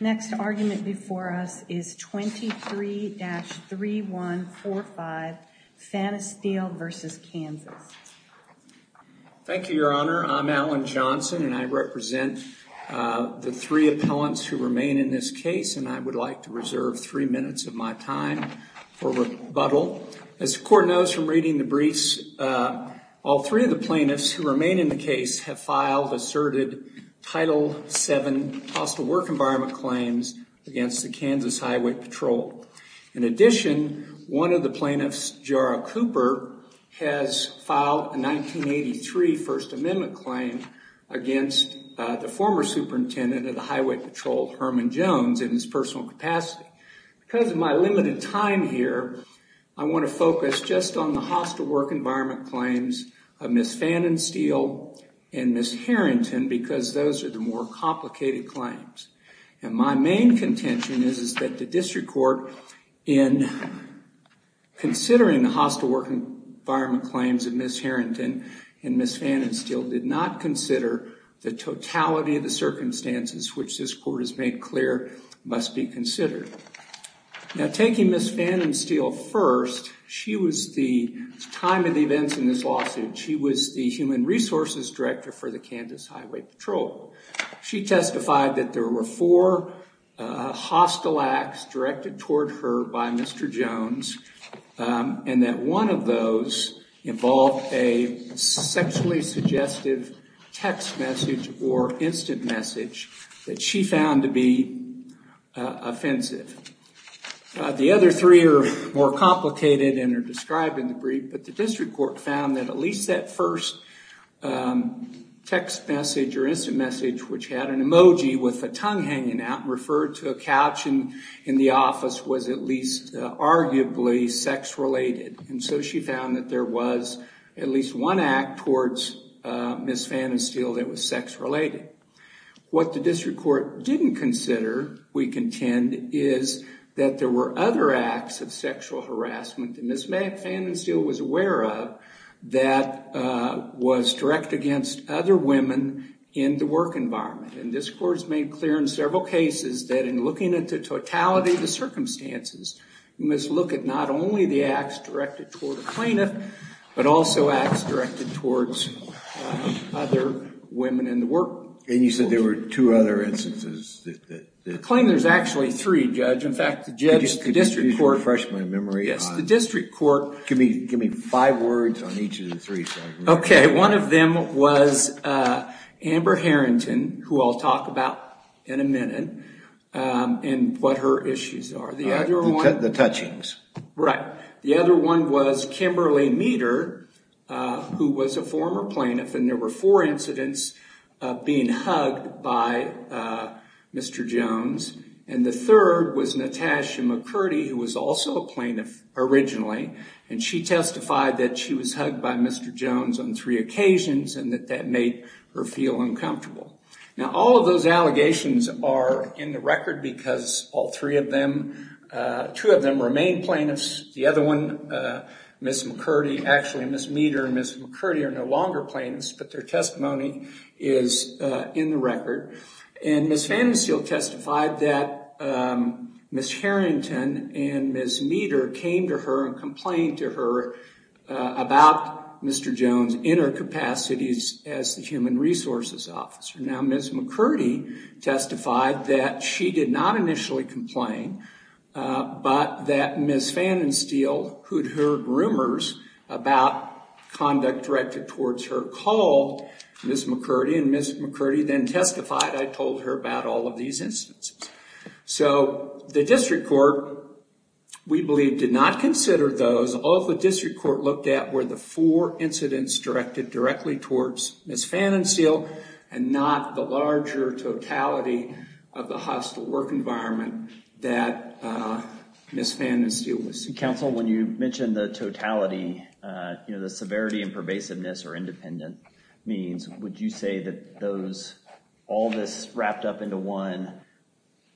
Next argument before us is 23-3145 Phannenstiel v. Kansas Thank you, Your Honor. I'm Alan Johnson, and I represent the three appellants who remain in this case, and I would like to reserve three minutes of my time for rebuttal. As the Court knows from reading the briefs, all three of the plaintiffs who remain in the case have filed asserted Title VII hostile work environment claims against the Kansas Highway Patrol. In addition, one of the plaintiffs, Jara Cooper, has filed a 1983 First Amendment claim against the former superintendent of the Highway Patrol, Herman Jones, in his personal capacity. Because of my limited time here, I want to focus just on the hostile work environment claims of Ms. Phannenstiel and Ms. Harrington because those are the more complicated claims. And my main contention is that the District Court, in considering the hostile work environment claims of Ms. Harrington and Ms. Phannenstiel, did not consider the totality of the circumstances which this Court has made clear must be considered. Now, taking Ms. Phannenstiel first, she was the, at the time of the events in this lawsuit, she was the Human Resources Director for the Kansas Highway Patrol. She testified that there were four hostile acts directed toward her by Mr. Jones and that one of those involved a sexually suggestive text message or instant message that she found to be offensive. The other three are more complicated and are described in the brief, but the District Court found that at least that first text message or instant message, which had an emoji with a tongue hanging out and referred to a couch in the office, was at least arguably sex-related. And so she found that there was at least one act towards Ms. Phannenstiel that was sex-related. What the District Court didn't consider, we contend, is that there were other acts of sexual harassment that Ms. Phannenstiel was aware of that was direct against other women in the work environment. And this Court has made clear in several cases that in looking at the totality of the circumstances, you must look at not only the acts directed toward a plaintiff, but also acts directed towards other women in the work environment. And you said there were two other instances that... The claim there's actually three, Judge. In fact, the judge, the District Court... Could you just refresh my memory on... Yes, the District Court... Give me five words on each of the three. Okay. One of them was Amber Harrington, who I'll talk about in a minute, and what her issues are. The other one... The touchings. Right. The other one was Kimberly Meter, who was a former plaintiff, and there were four incidents of being hugged by Mr. Jones. And the third was Natasha McCurdy, who was also a plaintiff originally, and she testified that she was hugged by Mr. Jones on three occasions and that that made her feel uncomfortable. Now, all of those allegations are in the record because all three of them... Two of them remain plaintiffs. The other one, Ms. McCurdy... Actually, Ms. Meter and Ms. McCurdy are no longer plaintiffs, but their testimony is in the record. And Ms. Fanninsteel testified that Ms. Harrington and Ms. Meter came to her and complained to her about Mr. Jones' inner capacities as the Human Resources Officer. Now, Ms. McCurdy testified that she did not initially complain, but that Ms. Fanninsteel, who'd heard rumors about conduct directed towards her, called Ms. McCurdy, and Ms. McCurdy then testified. I told her about all of these instances. So, the district court, we believe, did not consider those. All the district court looked at were the four incidents directed directly towards Ms. Fanninsteel and not the larger totality of the hostile work environment that Ms. Fanninsteel was...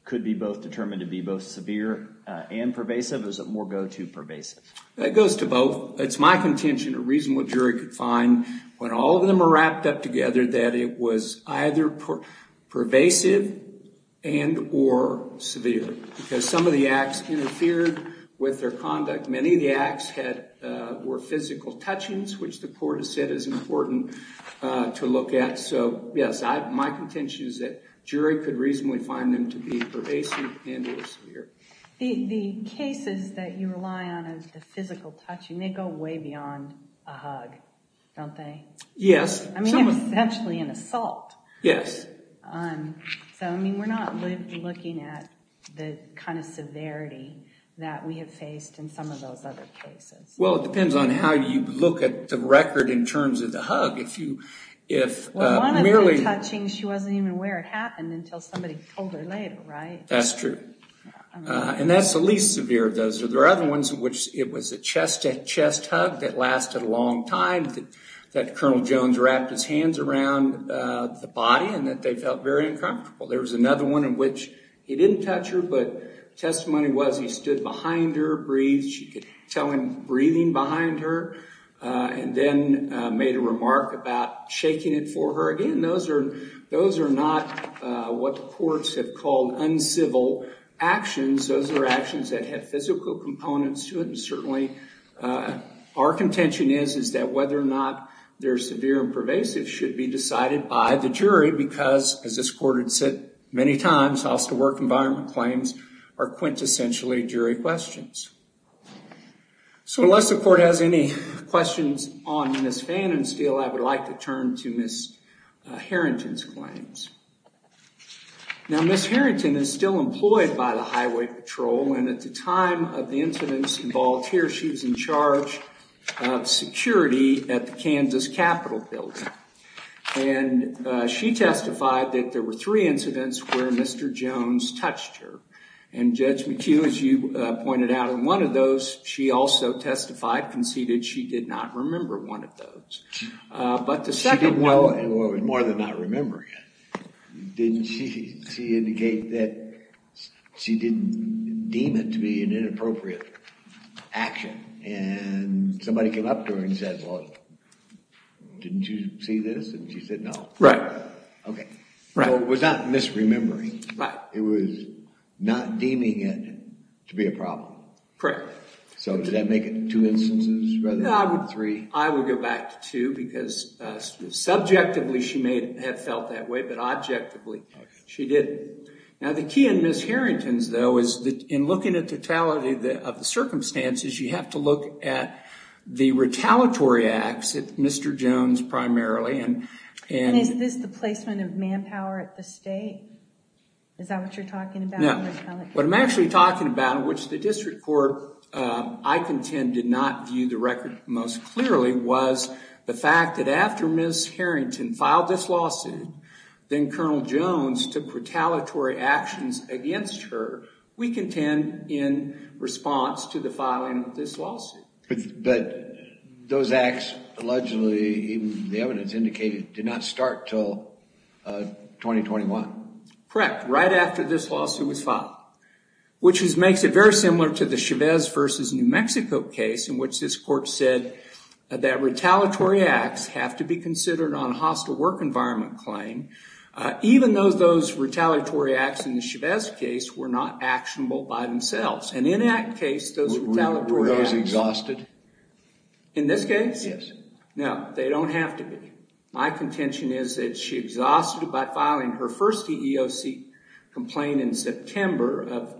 Could be both determined to be both severe and pervasive? Or is it more go-to pervasive? That goes to both. It's my contention a reasonable jury could find when all of them are wrapped up together that it was either pervasive and or severe because some of the acts interfered with their conduct. Many of the acts were physical touchings, which the court has said is important to look at. So, yes, my contention is that jury could reasonably find them to be pervasive and or severe. The cases that you rely on as the physical touching, they go way beyond a hug, don't they? Yes. I mean, essentially an assault. Yes. So, I mean, we're not looking at the kind of severity that we have faced in some of those other cases. Well, it depends on how you look at the record in terms of the hug. Well, one of the touchings, she wasn't even aware it happened until somebody told her later, right? That's true. And that's the least severe of those. There are other ones in which it was a chest hug that lasted a long time, that Colonel Jones wrapped his hands around the body and that they felt very uncomfortable. There was another one in which he didn't touch her, but testimony was he stood behind her, breathed. You could tell him breathing behind her and then made a remark about shaking it for her. Again, those are not what courts have called uncivil actions. Those are actions that have physical components to them. Certainly, our contention is that whether or not they're severe and pervasive should be decided by the jury because, as this court had said many times, house-to-work environment claims are quintessentially jury questions. So, unless the court has any questions on Ms. Fannin's field, I would like to turn to Ms. Harrington's claims. Now, Ms. Harrington is still employed by the Highway Patrol, and at the time of the incidents involved here, she was in charge of security at the Kansas Capitol Building. And she testified that there were three incidents where Mr. Jones touched her. And Judge McHugh, as you pointed out, in one of those, she also testified, conceded she did not remember one of those. Well, it was more than not remembering it. Didn't she indicate that she didn't deem it to be an inappropriate action? And somebody came up to her and said, well, didn't you see this? And she said no. Right. Okay. So it was not misremembering. Right. It was not deeming it to be a problem. Correct. So does that make it two instances rather than three? I would go back to two because subjectively she may have felt that way, but objectively she didn't. Now, the key in Ms. Harrington's, though, is that in looking at totality of the circumstances, you have to look at the retaliatory acts of Mr. Jones primarily. And is this the placement of manpower at the state? No. What I'm actually talking about, which the district court, I contend, did not view the record most clearly, was the fact that after Ms. Harrington filed this lawsuit, then Colonel Jones took retaliatory actions against her, we contend in response to the filing of this lawsuit. But those acts, allegedly, even the evidence indicated, did not start until 2021. Correct. Correct, right after this lawsuit was filed, which makes it very similar to the Chavez versus New Mexico case in which this court said that retaliatory acts have to be considered on hostile work environment claim, even though those retaliatory acts in the Chavez case were not actionable by themselves. And in that case, those retaliatory acts... Were those exhausted? In this case? Yes. No. They don't have to be. My contention is that she exhausted it by filing her first EEOC complaint in September of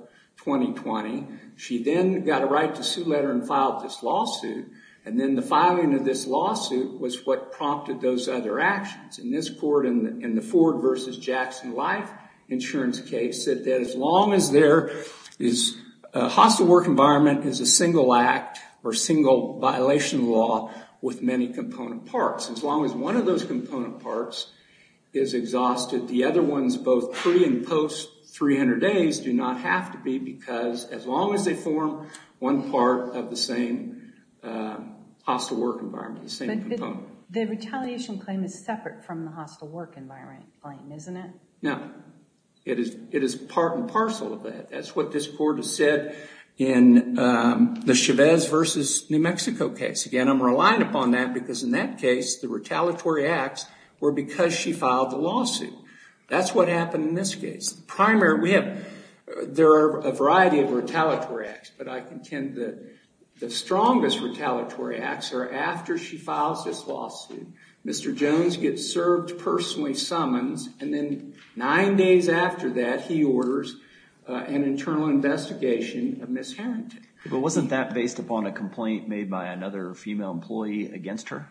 2020. She then got a right to sue letter and filed this lawsuit. And then the filing of this lawsuit was what prompted those other actions. And this court in the Ford versus Jackson Life insurance case said that as long as there is... A hostile work environment is a single act or single violation law with many component parts. As long as one of those component parts is exhausted, the other ones both pre and post 300 days do not have to be because as long as they form one part of the same hostile work environment, the same component. The retaliation claim is separate from the hostile work environment claim, isn't it? No. It is part and parcel of that. That's what this court has said in the Chavez versus New Mexico case. Again, I'm relying upon that because in that case, the retaliatory acts were because she filed the lawsuit. That's what happened in this case. There are a variety of retaliatory acts, but I contend that the strongest retaliatory acts are after she files this lawsuit. Mr. Jones gets served personally summons, and then nine days after that, he orders an internal investigation of mishandling. Wasn't that based upon a complaint made by another female employee against her?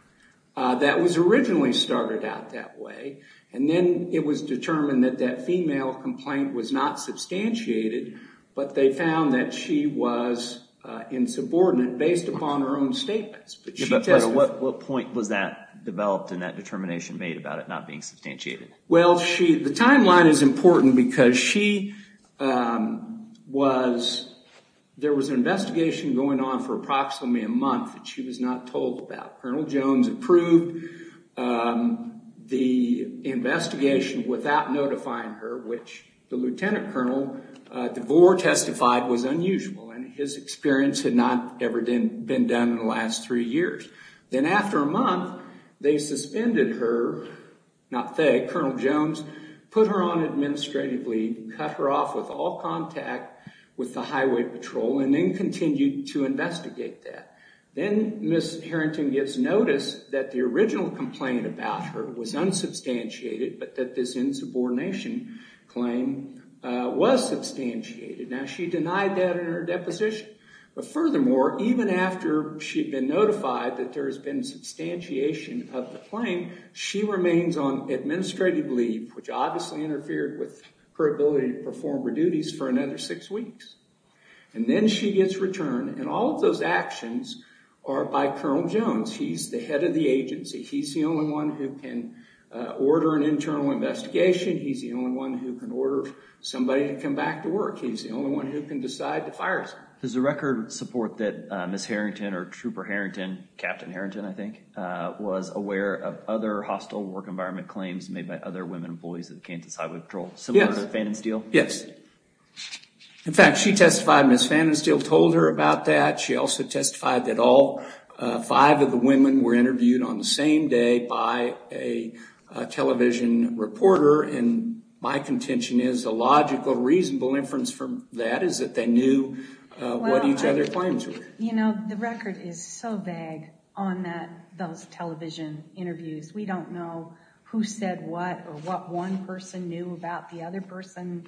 That was originally started out that way, and then it was determined that that female complaint was not substantiated, but they found that she was insubordinate based upon her own statements. What point was that developed in that determination made about it not being substantiated? The timeline is important because there was an investigation going on for approximately a month that she was not told about. Colonel Jones approved the investigation without notifying her, which the Lieutenant Colonel DeVore testified was unusual, and his experience had not ever been done in the last three years. Then after a month, they suspended her, not they, Colonel Jones, put her on administrative leave, cut her off with all contact with the highway patrol, and then continued to investigate that. Then Ms. Harrington gets notice that the original complaint about her was unsubstantiated, but that this insubordination claim was substantiated. Now, she denied that in her deposition, but furthermore, even after she had been notified that there has been substantiation of the claim, she remains on administrative leave, which obviously interfered with her ability to perform her duties for another six weeks. Then she gets returned, and all of those actions are by Colonel Jones. He's the head of the agency. He's the only one who can order an internal investigation. He's the only one who can order somebody to come back to work. He's the only one who can decide to fire someone. There's a record of support that Ms. Harrington, or Trooper Harrington, Captain Harrington, I think, was aware of other hostile work environment claims made by other women employees at Kansas Highway Patrol, similar to Fan and Steele. Yes. In fact, she testified, Ms. Fan and Steele told her about that. She also testified that all five of the women were interviewed on the same day by a television reporter, and my contention is a logical, reasonable inference from that is that they knew what each other's claims were. You know, the record is so vague on those television interviews. We don't know who said what or what one person knew about the other person's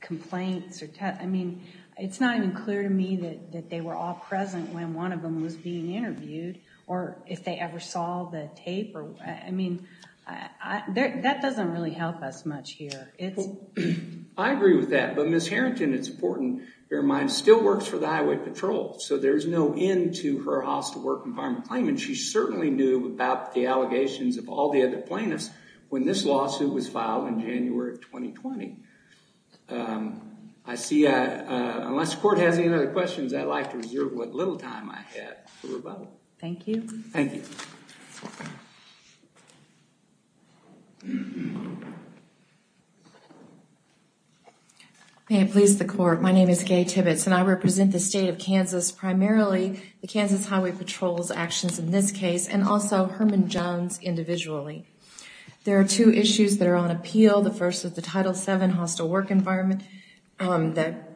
complaints. I mean, it's not even clear to me that they were all present when one of them was being interviewed, or if they ever saw the tape. I mean, that doesn't really help us much here. I agree with that, but Ms. Harrington, it's important to bear in mind, still works for the Highway Patrol, so there's no end to her hostile work environment claim, and she certainly knew about the allegations of all the other plaintiffs when this lawsuit was filed in January of 2020. I see, unless the court has any other questions, I'd like to reserve what little time I have for rebuttal. Thank you. Thank you. May it please the court, my name is Gay Tibbetts, and I represent the state of Kansas, primarily the Kansas Highway Patrol's actions in this case, and also Herman Jones' individually. There are two issues that are on appeal. The first is the Title VII hostile work environment that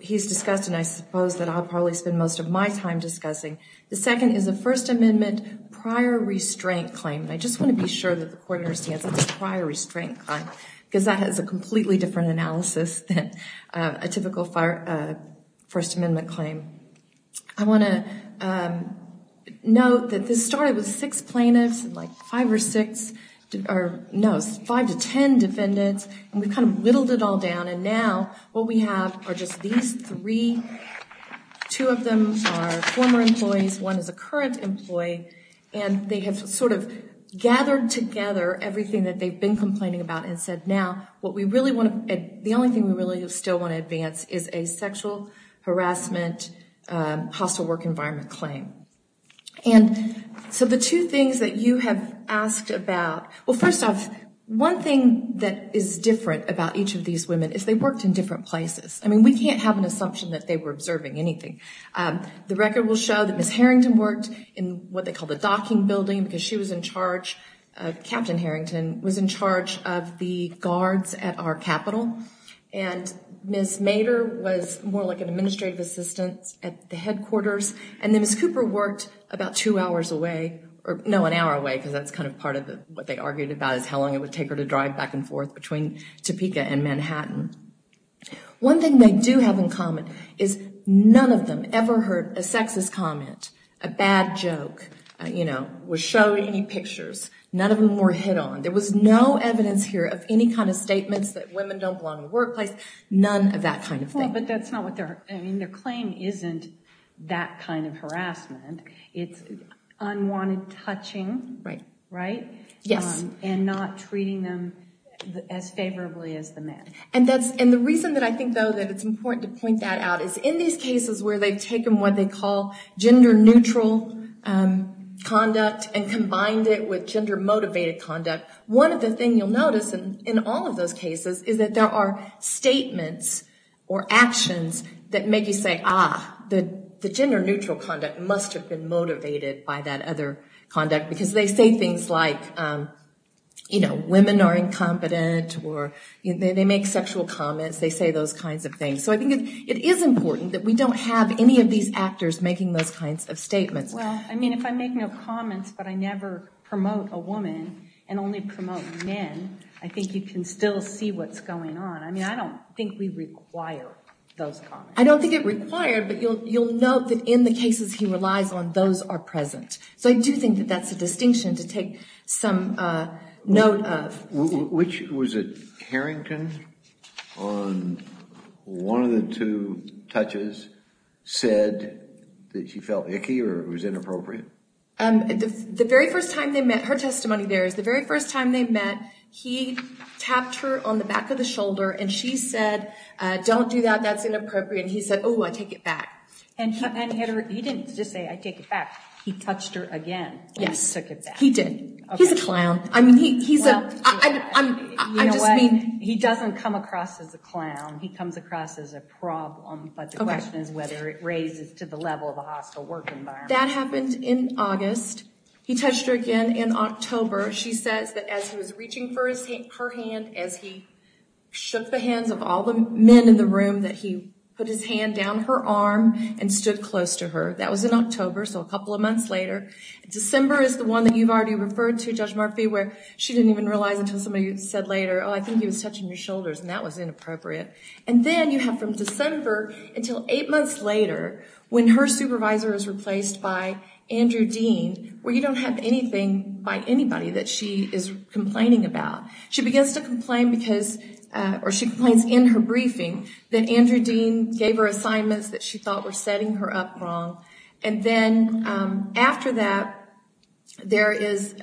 he's discussed, and I suppose that I'll probably spend most of my time discussing. The second is a First Amendment prior restraint claim. I just want to be sure that the court understands it's a prior restraint claim, because that has a completely different analysis than a typical First Amendment claim. I want to note that this started with six plaintiffs, like five or six, no, five to ten defendants, and we've kind of whittled it all down, and now what we have are just these three. Two of them are former employees, one is a current employee, and they have sort of gathered together everything that they've been complaining about and said, now the only thing we really still want to advance is a sexual harassment hostile work environment claim. And so the two things that you have asked about, well, first off, one thing that is different about each of these women is they worked in different places. I mean, we can't have an assumption that they were observing anything. The record will show that Ms. Harrington worked in what they call the docking building, because she was in charge, Captain Harrington was in charge of the guards at our capital, and Ms. Mader was more like an administrative assistant at the headquarters, and then Ms. Cooper worked about two hours away, or no, an hour away, because that's kind of part of what they argued about is how long it would take her to drive back and forth between Topeka and Manhattan. One thing they do have in common is none of them ever heard a sexist comment, a bad joke, you know, was showing any pictures. None of them were hit on. There was no evidence here of any kind of statements that women don't belong in the workplace, none of that kind of thing. Well, but that's not what they're, I mean, their claim isn't that kind of harassment. It's unwanted touching, right? Yes. And not treating them as favorably as the men. And the reason that I think, though, that it's important to point that out is in these cases where they've taken what they call gender-neutral conduct and combined it with gender-motivated conduct, one of the things you'll notice in all of those cases is that there are statements or actions that make you say, ah, the gender-neutral conduct must have been motivated by that other conduct, because they say things like, you know, women are incompetent or they make sexual comments. They say those kinds of things. So I think it is important that we don't have any of these actors making those kinds of statements. Well, I mean, if I make no comments but I never promote a woman and only promote men, I think you can still see what's going on. I mean, I don't think we require those comments. I don't think it required, but you'll note that in the cases he relies on, those are present. So I do think that that's a distinction to take some note of. Which was it? Harrington, on one of the two touches, said that she felt icky or it was inappropriate? The very first time they met, her testimony there is the very first time they met, he tapped her on the back of the shoulder and she said, don't do that, that's inappropriate. And he said, oh, I take it back. And he didn't just say, I take it back. He touched her again when he took it back. Yes, he did. He's a clown. I just mean he doesn't come across as a clown. He comes across as a problem. But the question is whether it raises to the level of a hostile work environment. That happened in August. He touched her again in October. She says that as he was reaching for her hand, as he shook the hands of all the men in the room, that he put his hand down her arm and stood close to her. That was in October, so a couple of months later. December is the one that you've already referred to, Judge Murphy, where she didn't even realize until somebody said later, oh, I think he was touching your shoulders, and that was inappropriate. And then you have from December until eight months later when her supervisor is replaced by Andrew Dean, where you don't have anything by anybody that she is complaining about. She begins to complain because, or she complains in her briefing, that Andrew Dean gave her assignments that she thought were setting her up wrong. And then after that, there is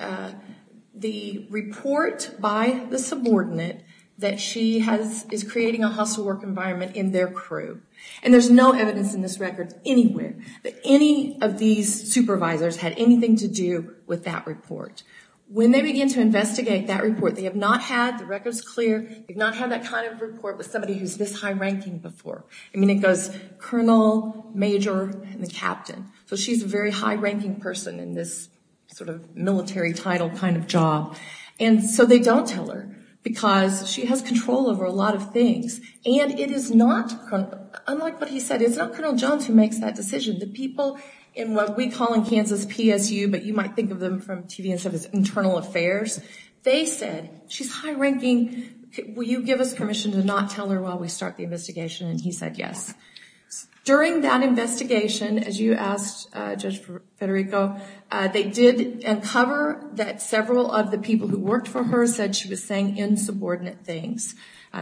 the report by the subordinate that she is creating a hostile work environment in their crew. And there's no evidence in this record anywhere that any of these supervisors had anything to do with that report. When they begin to investigate that report, they have not had, the record's clear, they've not had that kind of report with somebody who's this high-ranking before. I mean, it goes Colonel, Major, and the Captain. So she's a very high-ranking person in this sort of military title kind of job. And so they don't tell her because she has control over a lot of things. And it is not, unlike what he said, it's not Colonel Jones who makes that decision. The people in what we call in Kansas PSU, but you might think of them from TV instead of internal affairs, they said, she's high-ranking, will you give us permission to not tell her while we start the investigation? And he said yes. During that investigation, as you asked Judge Federico, they did uncover that several of the people who worked for her said she was saying insubordinate things.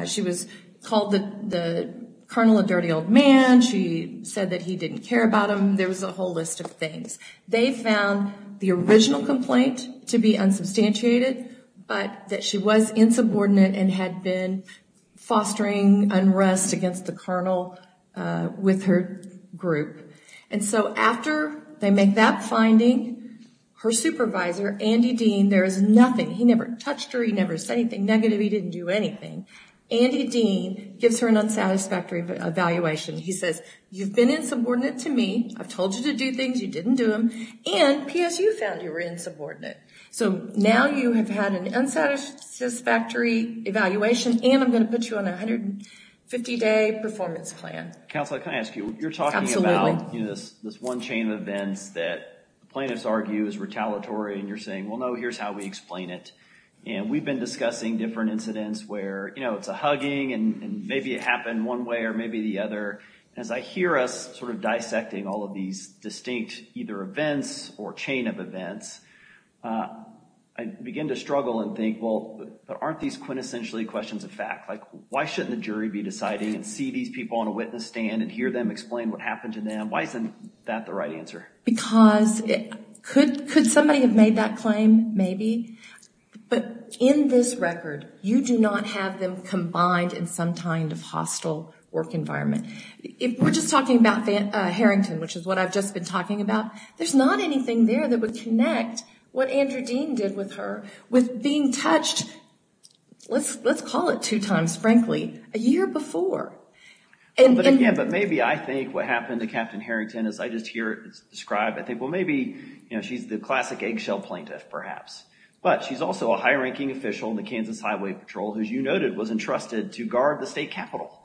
She was called the Colonel a dirty old man. She said that he didn't care about him. There was a whole list of things. They found the original complaint to be unsubstantiated, but that she was insubordinate and had been fostering unrest against the Colonel with her group. And so after they make that finding, her supervisor, Andy Dean, there is nothing, he never touched her, he never said anything negative, he didn't do anything. Andy Dean gives her an unsatisfactory evaluation. He says, you've been insubordinate to me, I've told you to do things, you didn't do them, and PSU found you were insubordinate. So now you have had an unsatisfactory evaluation and I'm going to put you on a 150-day performance plan. Counsel, can I ask you, you're talking about this one chain of events that plaintiffs argue is retaliatory and you're saying, well, no, here's how we explain it. And we've been discussing different incidents where, you know, it's a hugging and maybe it happened one way or maybe the other. As I hear us sort of dissecting all of these distinct either events or chain of events, I begin to struggle and think, well, aren't these quintessentially questions of fact? Like, why shouldn't the jury be deciding and see these people on a witness stand and hear them explain what happened to them? Why isn't that the right answer? Because could somebody have made that claim? Maybe. But in this record, you do not have them combined in some kind of hostile work environment. We're just talking about Harrington, which is what I've just been talking about. There's not anything there that would connect what Andrew Dean did with her with being touched, let's call it two times, frankly, a year before. But again, but maybe I think what happened to Captain Harrington, as I just hear it described, I think, well, maybe, you know, she's the classic eggshell plaintiff perhaps. But she's also a high-ranking official in the Kansas Highway Patrol, who, as you noted, was entrusted to guard the state capitol.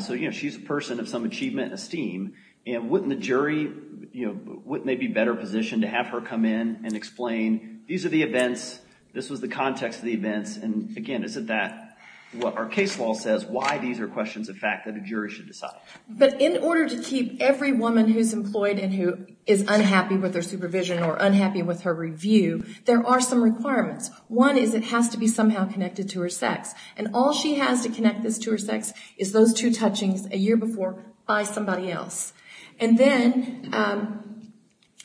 So, you know, she's a person of some achievement and esteem. And wouldn't the jury, you know, wouldn't they be better positioned to have her come in and explain these are the events, this was the context of the events, and again, isn't that what our case law says, why these are questions of fact that a jury should decide? But in order to keep every woman who's employed and who is unhappy with their supervision or unhappy with her review, there are some requirements. One is it has to be somehow connected to her sex. And all she has to connect this to her sex is those two touchings a year before by somebody else. And then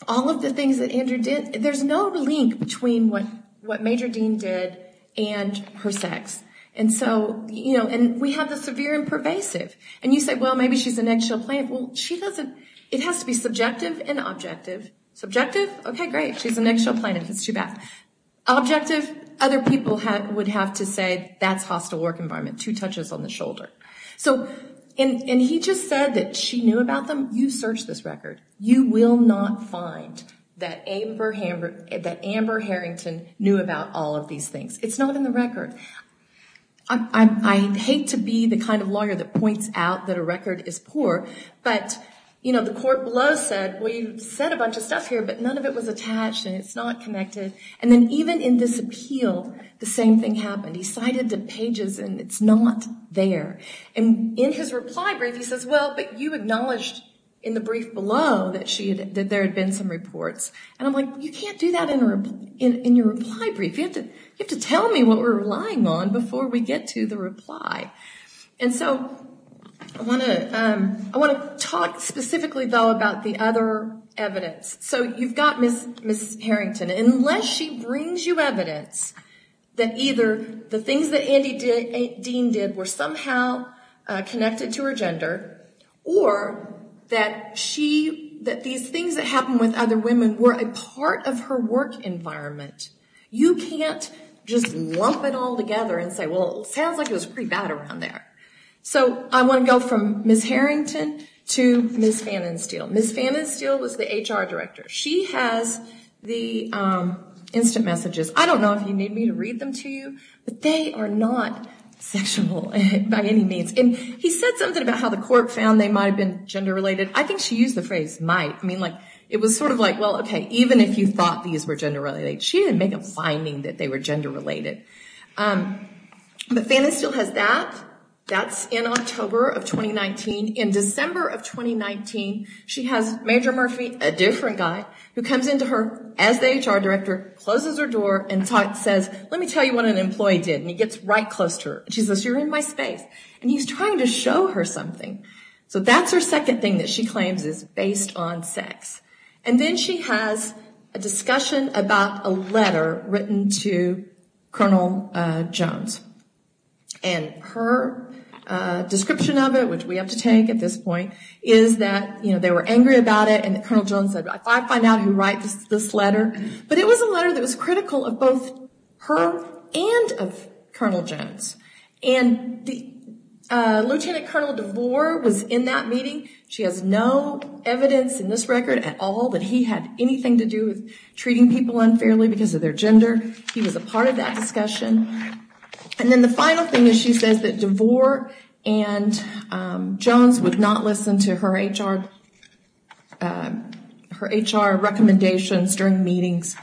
all of the things that Andrew did, there's no link between what Major Dean did and her sex. And so, you know, and we have the severe and pervasive. And you say, well, maybe she's an eggshell plaintiff. Well, she doesn't, it has to be subjective and objective. Subjective, okay, great, she's an eggshell plaintiff, it's too bad. Objective, other people would have to say that's hostile work environment, two touches on the shoulder. So, and he just said that she knew about them, you search this record. You will not find that Amber Harrington knew about all of these things. It's not in the record. I hate to be the kind of lawyer that points out that a record is poor. But, you know, the court below said, well, you said a bunch of stuff here, but none of it was attached and it's not connected. And then even in this appeal, the same thing happened. He cited the pages and it's not there. And in his reply brief, he says, well, but you acknowledged in the brief below that there had been some reports. And I'm like, you can't do that in your reply brief. You have to tell me what we're relying on before we get to the reply. And so, I want to talk specifically, though, about the other evidence. So, you've got Ms. Harrington. Unless she brings you evidence that either the things that Andy Dean did were somehow connected to her gender, or that these things that happened with other women were a part of her work environment, you can't just lump it all together and say, well, it sounds like it was pretty bad around there. So, I want to go from Ms. Harrington to Ms. Fannin-Steele. Ms. Fannin-Steele was the HR director. She has the instant messages. I don't know if you need me to read them to you, but they are not sexual by any means. And he said something about how the court found they might have been gender related. I think she used the phrase might. It was sort of like, well, okay, even if you thought these were gender related, she didn't make a finding that they were gender related. But Fannin-Steele has that. That's in October of 2019. In December of 2019, she has Major Murphy, a different guy, who comes into her as the HR director, closes her door, and says, let me tell you what an employee did. And he gets right close to her. She says, you're in my space. And he's trying to show her something. So that's her second thing that she claims is based on sex. And then she has a discussion about a letter written to Colonel Jones. And her description of it, which we have to take at this point, is that, you know, they were angry about it, and Colonel Jones said, if I find out who writes this letter. But it was a letter that was critical of both her and of Colonel Jones. And Lieutenant Colonel DeVore was in that meeting. She has no evidence in this record at all that he had anything to do with treating people unfairly because of their gender. He was a part of that discussion. And then the final thing is she says that DeVore and Jones would not listen to her HR recommendations during meetings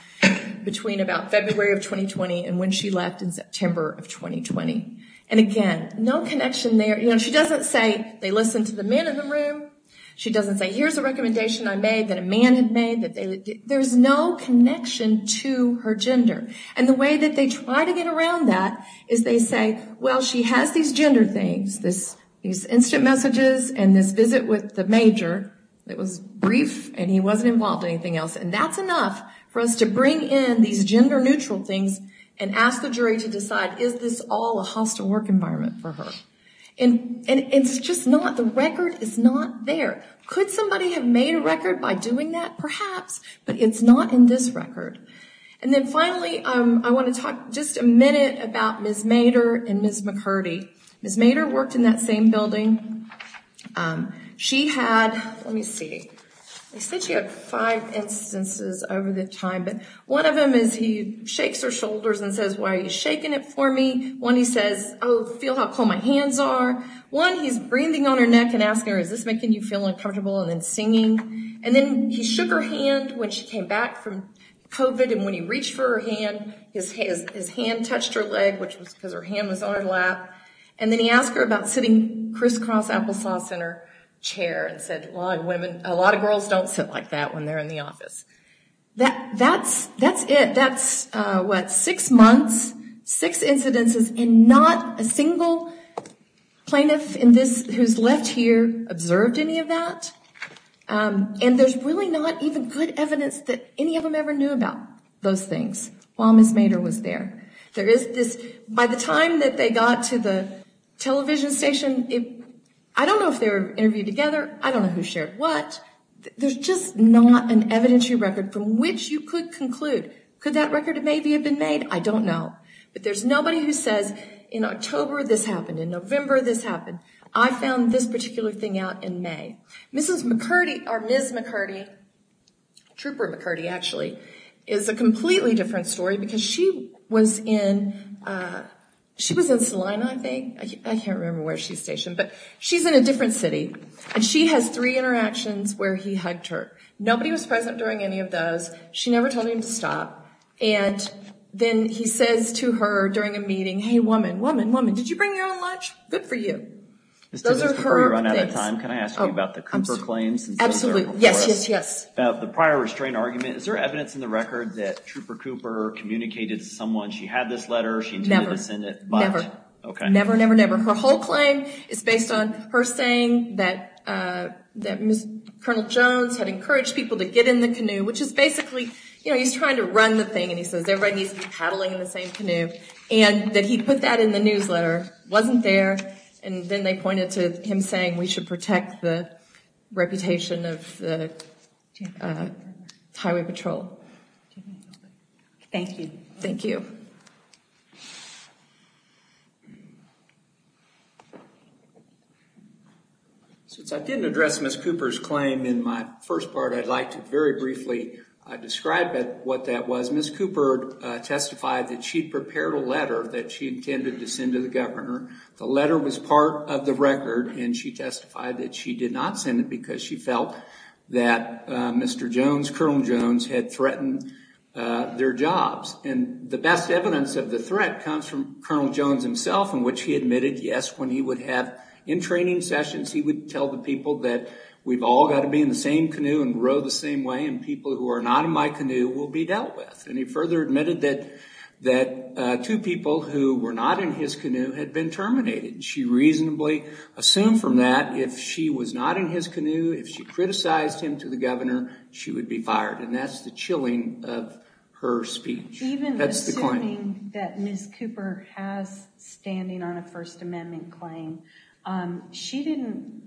between about February of 2020 and when she left in September of 2020. And again, no connection there. You know, she doesn't say, they listened to the man in the room. She doesn't say, here's a recommendation I made that a man had made. There's no connection to her gender. And the way that they try to get around that is they say, well, she has these gender things, these instant messages and this visit with the major. It was brief, and he wasn't involved in anything else. And that's enough for us to bring in these gender neutral things and ask the jury to decide, is this all a hostile work environment for her? And it's just not. The record is not there. Could somebody have made a record by doing that? Perhaps. But it's not in this record. And then finally, I want to talk just a minute about Ms. Mader and Ms. McCurdy. Ms. Mader worked in that same building. She had, let me see, I said she had five instances over the time, but one of them is he shakes her shoulders and says, why are you shaking it for me? One, he says, oh, feel how cold my hands are. One, he's breathing on her neck and asking her, is this making you feel uncomfortable? And then singing. And then he shook her hand when she came back from COVID, and when he reached for her hand, his hand touched her leg, which was because her hand was on her lap. And then he asked her about sitting crisscross applesauce in her chair and said, a lot of girls don't sit like that when they're in the office. That's it. That's what, six months, six incidences, and not a single plaintiff in this who's left here observed any of that. And there's really not even good evidence that any of them ever knew about those things while Ms. Mader was there. There is this, by the time that they got to the television station, I don't know if they were interviewed together. I don't know who shared what. There's just not an evidentiary record from which you could conclude. Could that record maybe have been made? I don't know. But there's nobody who says, in October this happened, in November this happened. I found this particular thing out in May. Mrs. McCurdy, or Ms. McCurdy, Trooper McCurdy, actually, is a completely different story because she was in, she was in Salina, I think. I can't remember where she's stationed, but she's in a different city. And she has three interactions where he hugged her. Nobody was present during any of those. She never told him to stop. And then he says to her during a meeting, hey, woman, woman, woman, did you bring your own lunch? Good for you. Those are her things. Before we run out of time, can I ask you about the Cooper claims? Absolutely. Yes, yes, yes. About the prior restraint argument, is there evidence in the record that Trooper Cooper communicated to someone, she had this letter, she intended to send it? Never, never. Okay. Never, never, never. And her whole claim is based on her saying that Colonel Jones had encouraged people to get in the canoe, which is basically, you know, he's trying to run the thing and he says everybody needs to be paddling in the same canoe. And that he put that in the newsletter. It wasn't there. And then they pointed to him saying we should protect the reputation of the Highway Patrol. Thank you. Thank you. Since I didn't address Ms. Cooper's claim in my first part, I'd like to very briefly describe what that was. Ms. Cooper testified that she prepared a letter that she intended to send to the governor. The letter was part of the record and she testified that she did not send it because she felt that Mr. Jones, Colonel Jones, had threatened their jobs. And the best evidence of the threat comes from Colonel Jones himself in which he admitted, yes, when he would have in-training sessions, he would tell the people that we've all got to be in the same canoe and row the same way and people who are not in my canoe will be dealt with. And he further admitted that two people who were not in his canoe had been terminated. She reasonably assumed from that if she was not in his canoe, if she criticized him to the governor, she would be fired. And that's the chilling of her speech. Even assuming that Ms. Cooper has standing on a First Amendment claim, she didn't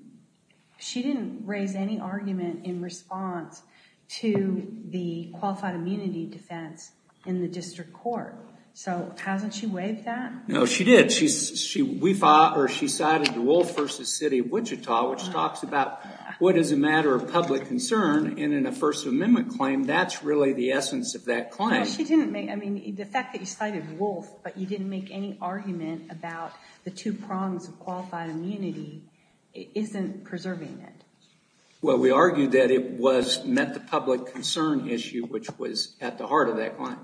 raise any argument in response to the qualified immunity defense in the district court. So hasn't she waived that? No, she did. She cited the Wolf v. City of Wichita, which talks about what is a matter of public concern. And in a First Amendment claim, that's really the essence of that claim. The fact that you cited Wolf but you didn't make any argument about the two prongs of qualified immunity isn't preserving it. Well, we argued that it met the public concern issue, which was at the heart of that claim.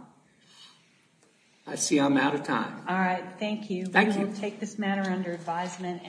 I see I'm out of time. All right. Thank you. Thank you. We will take this matter under advisement.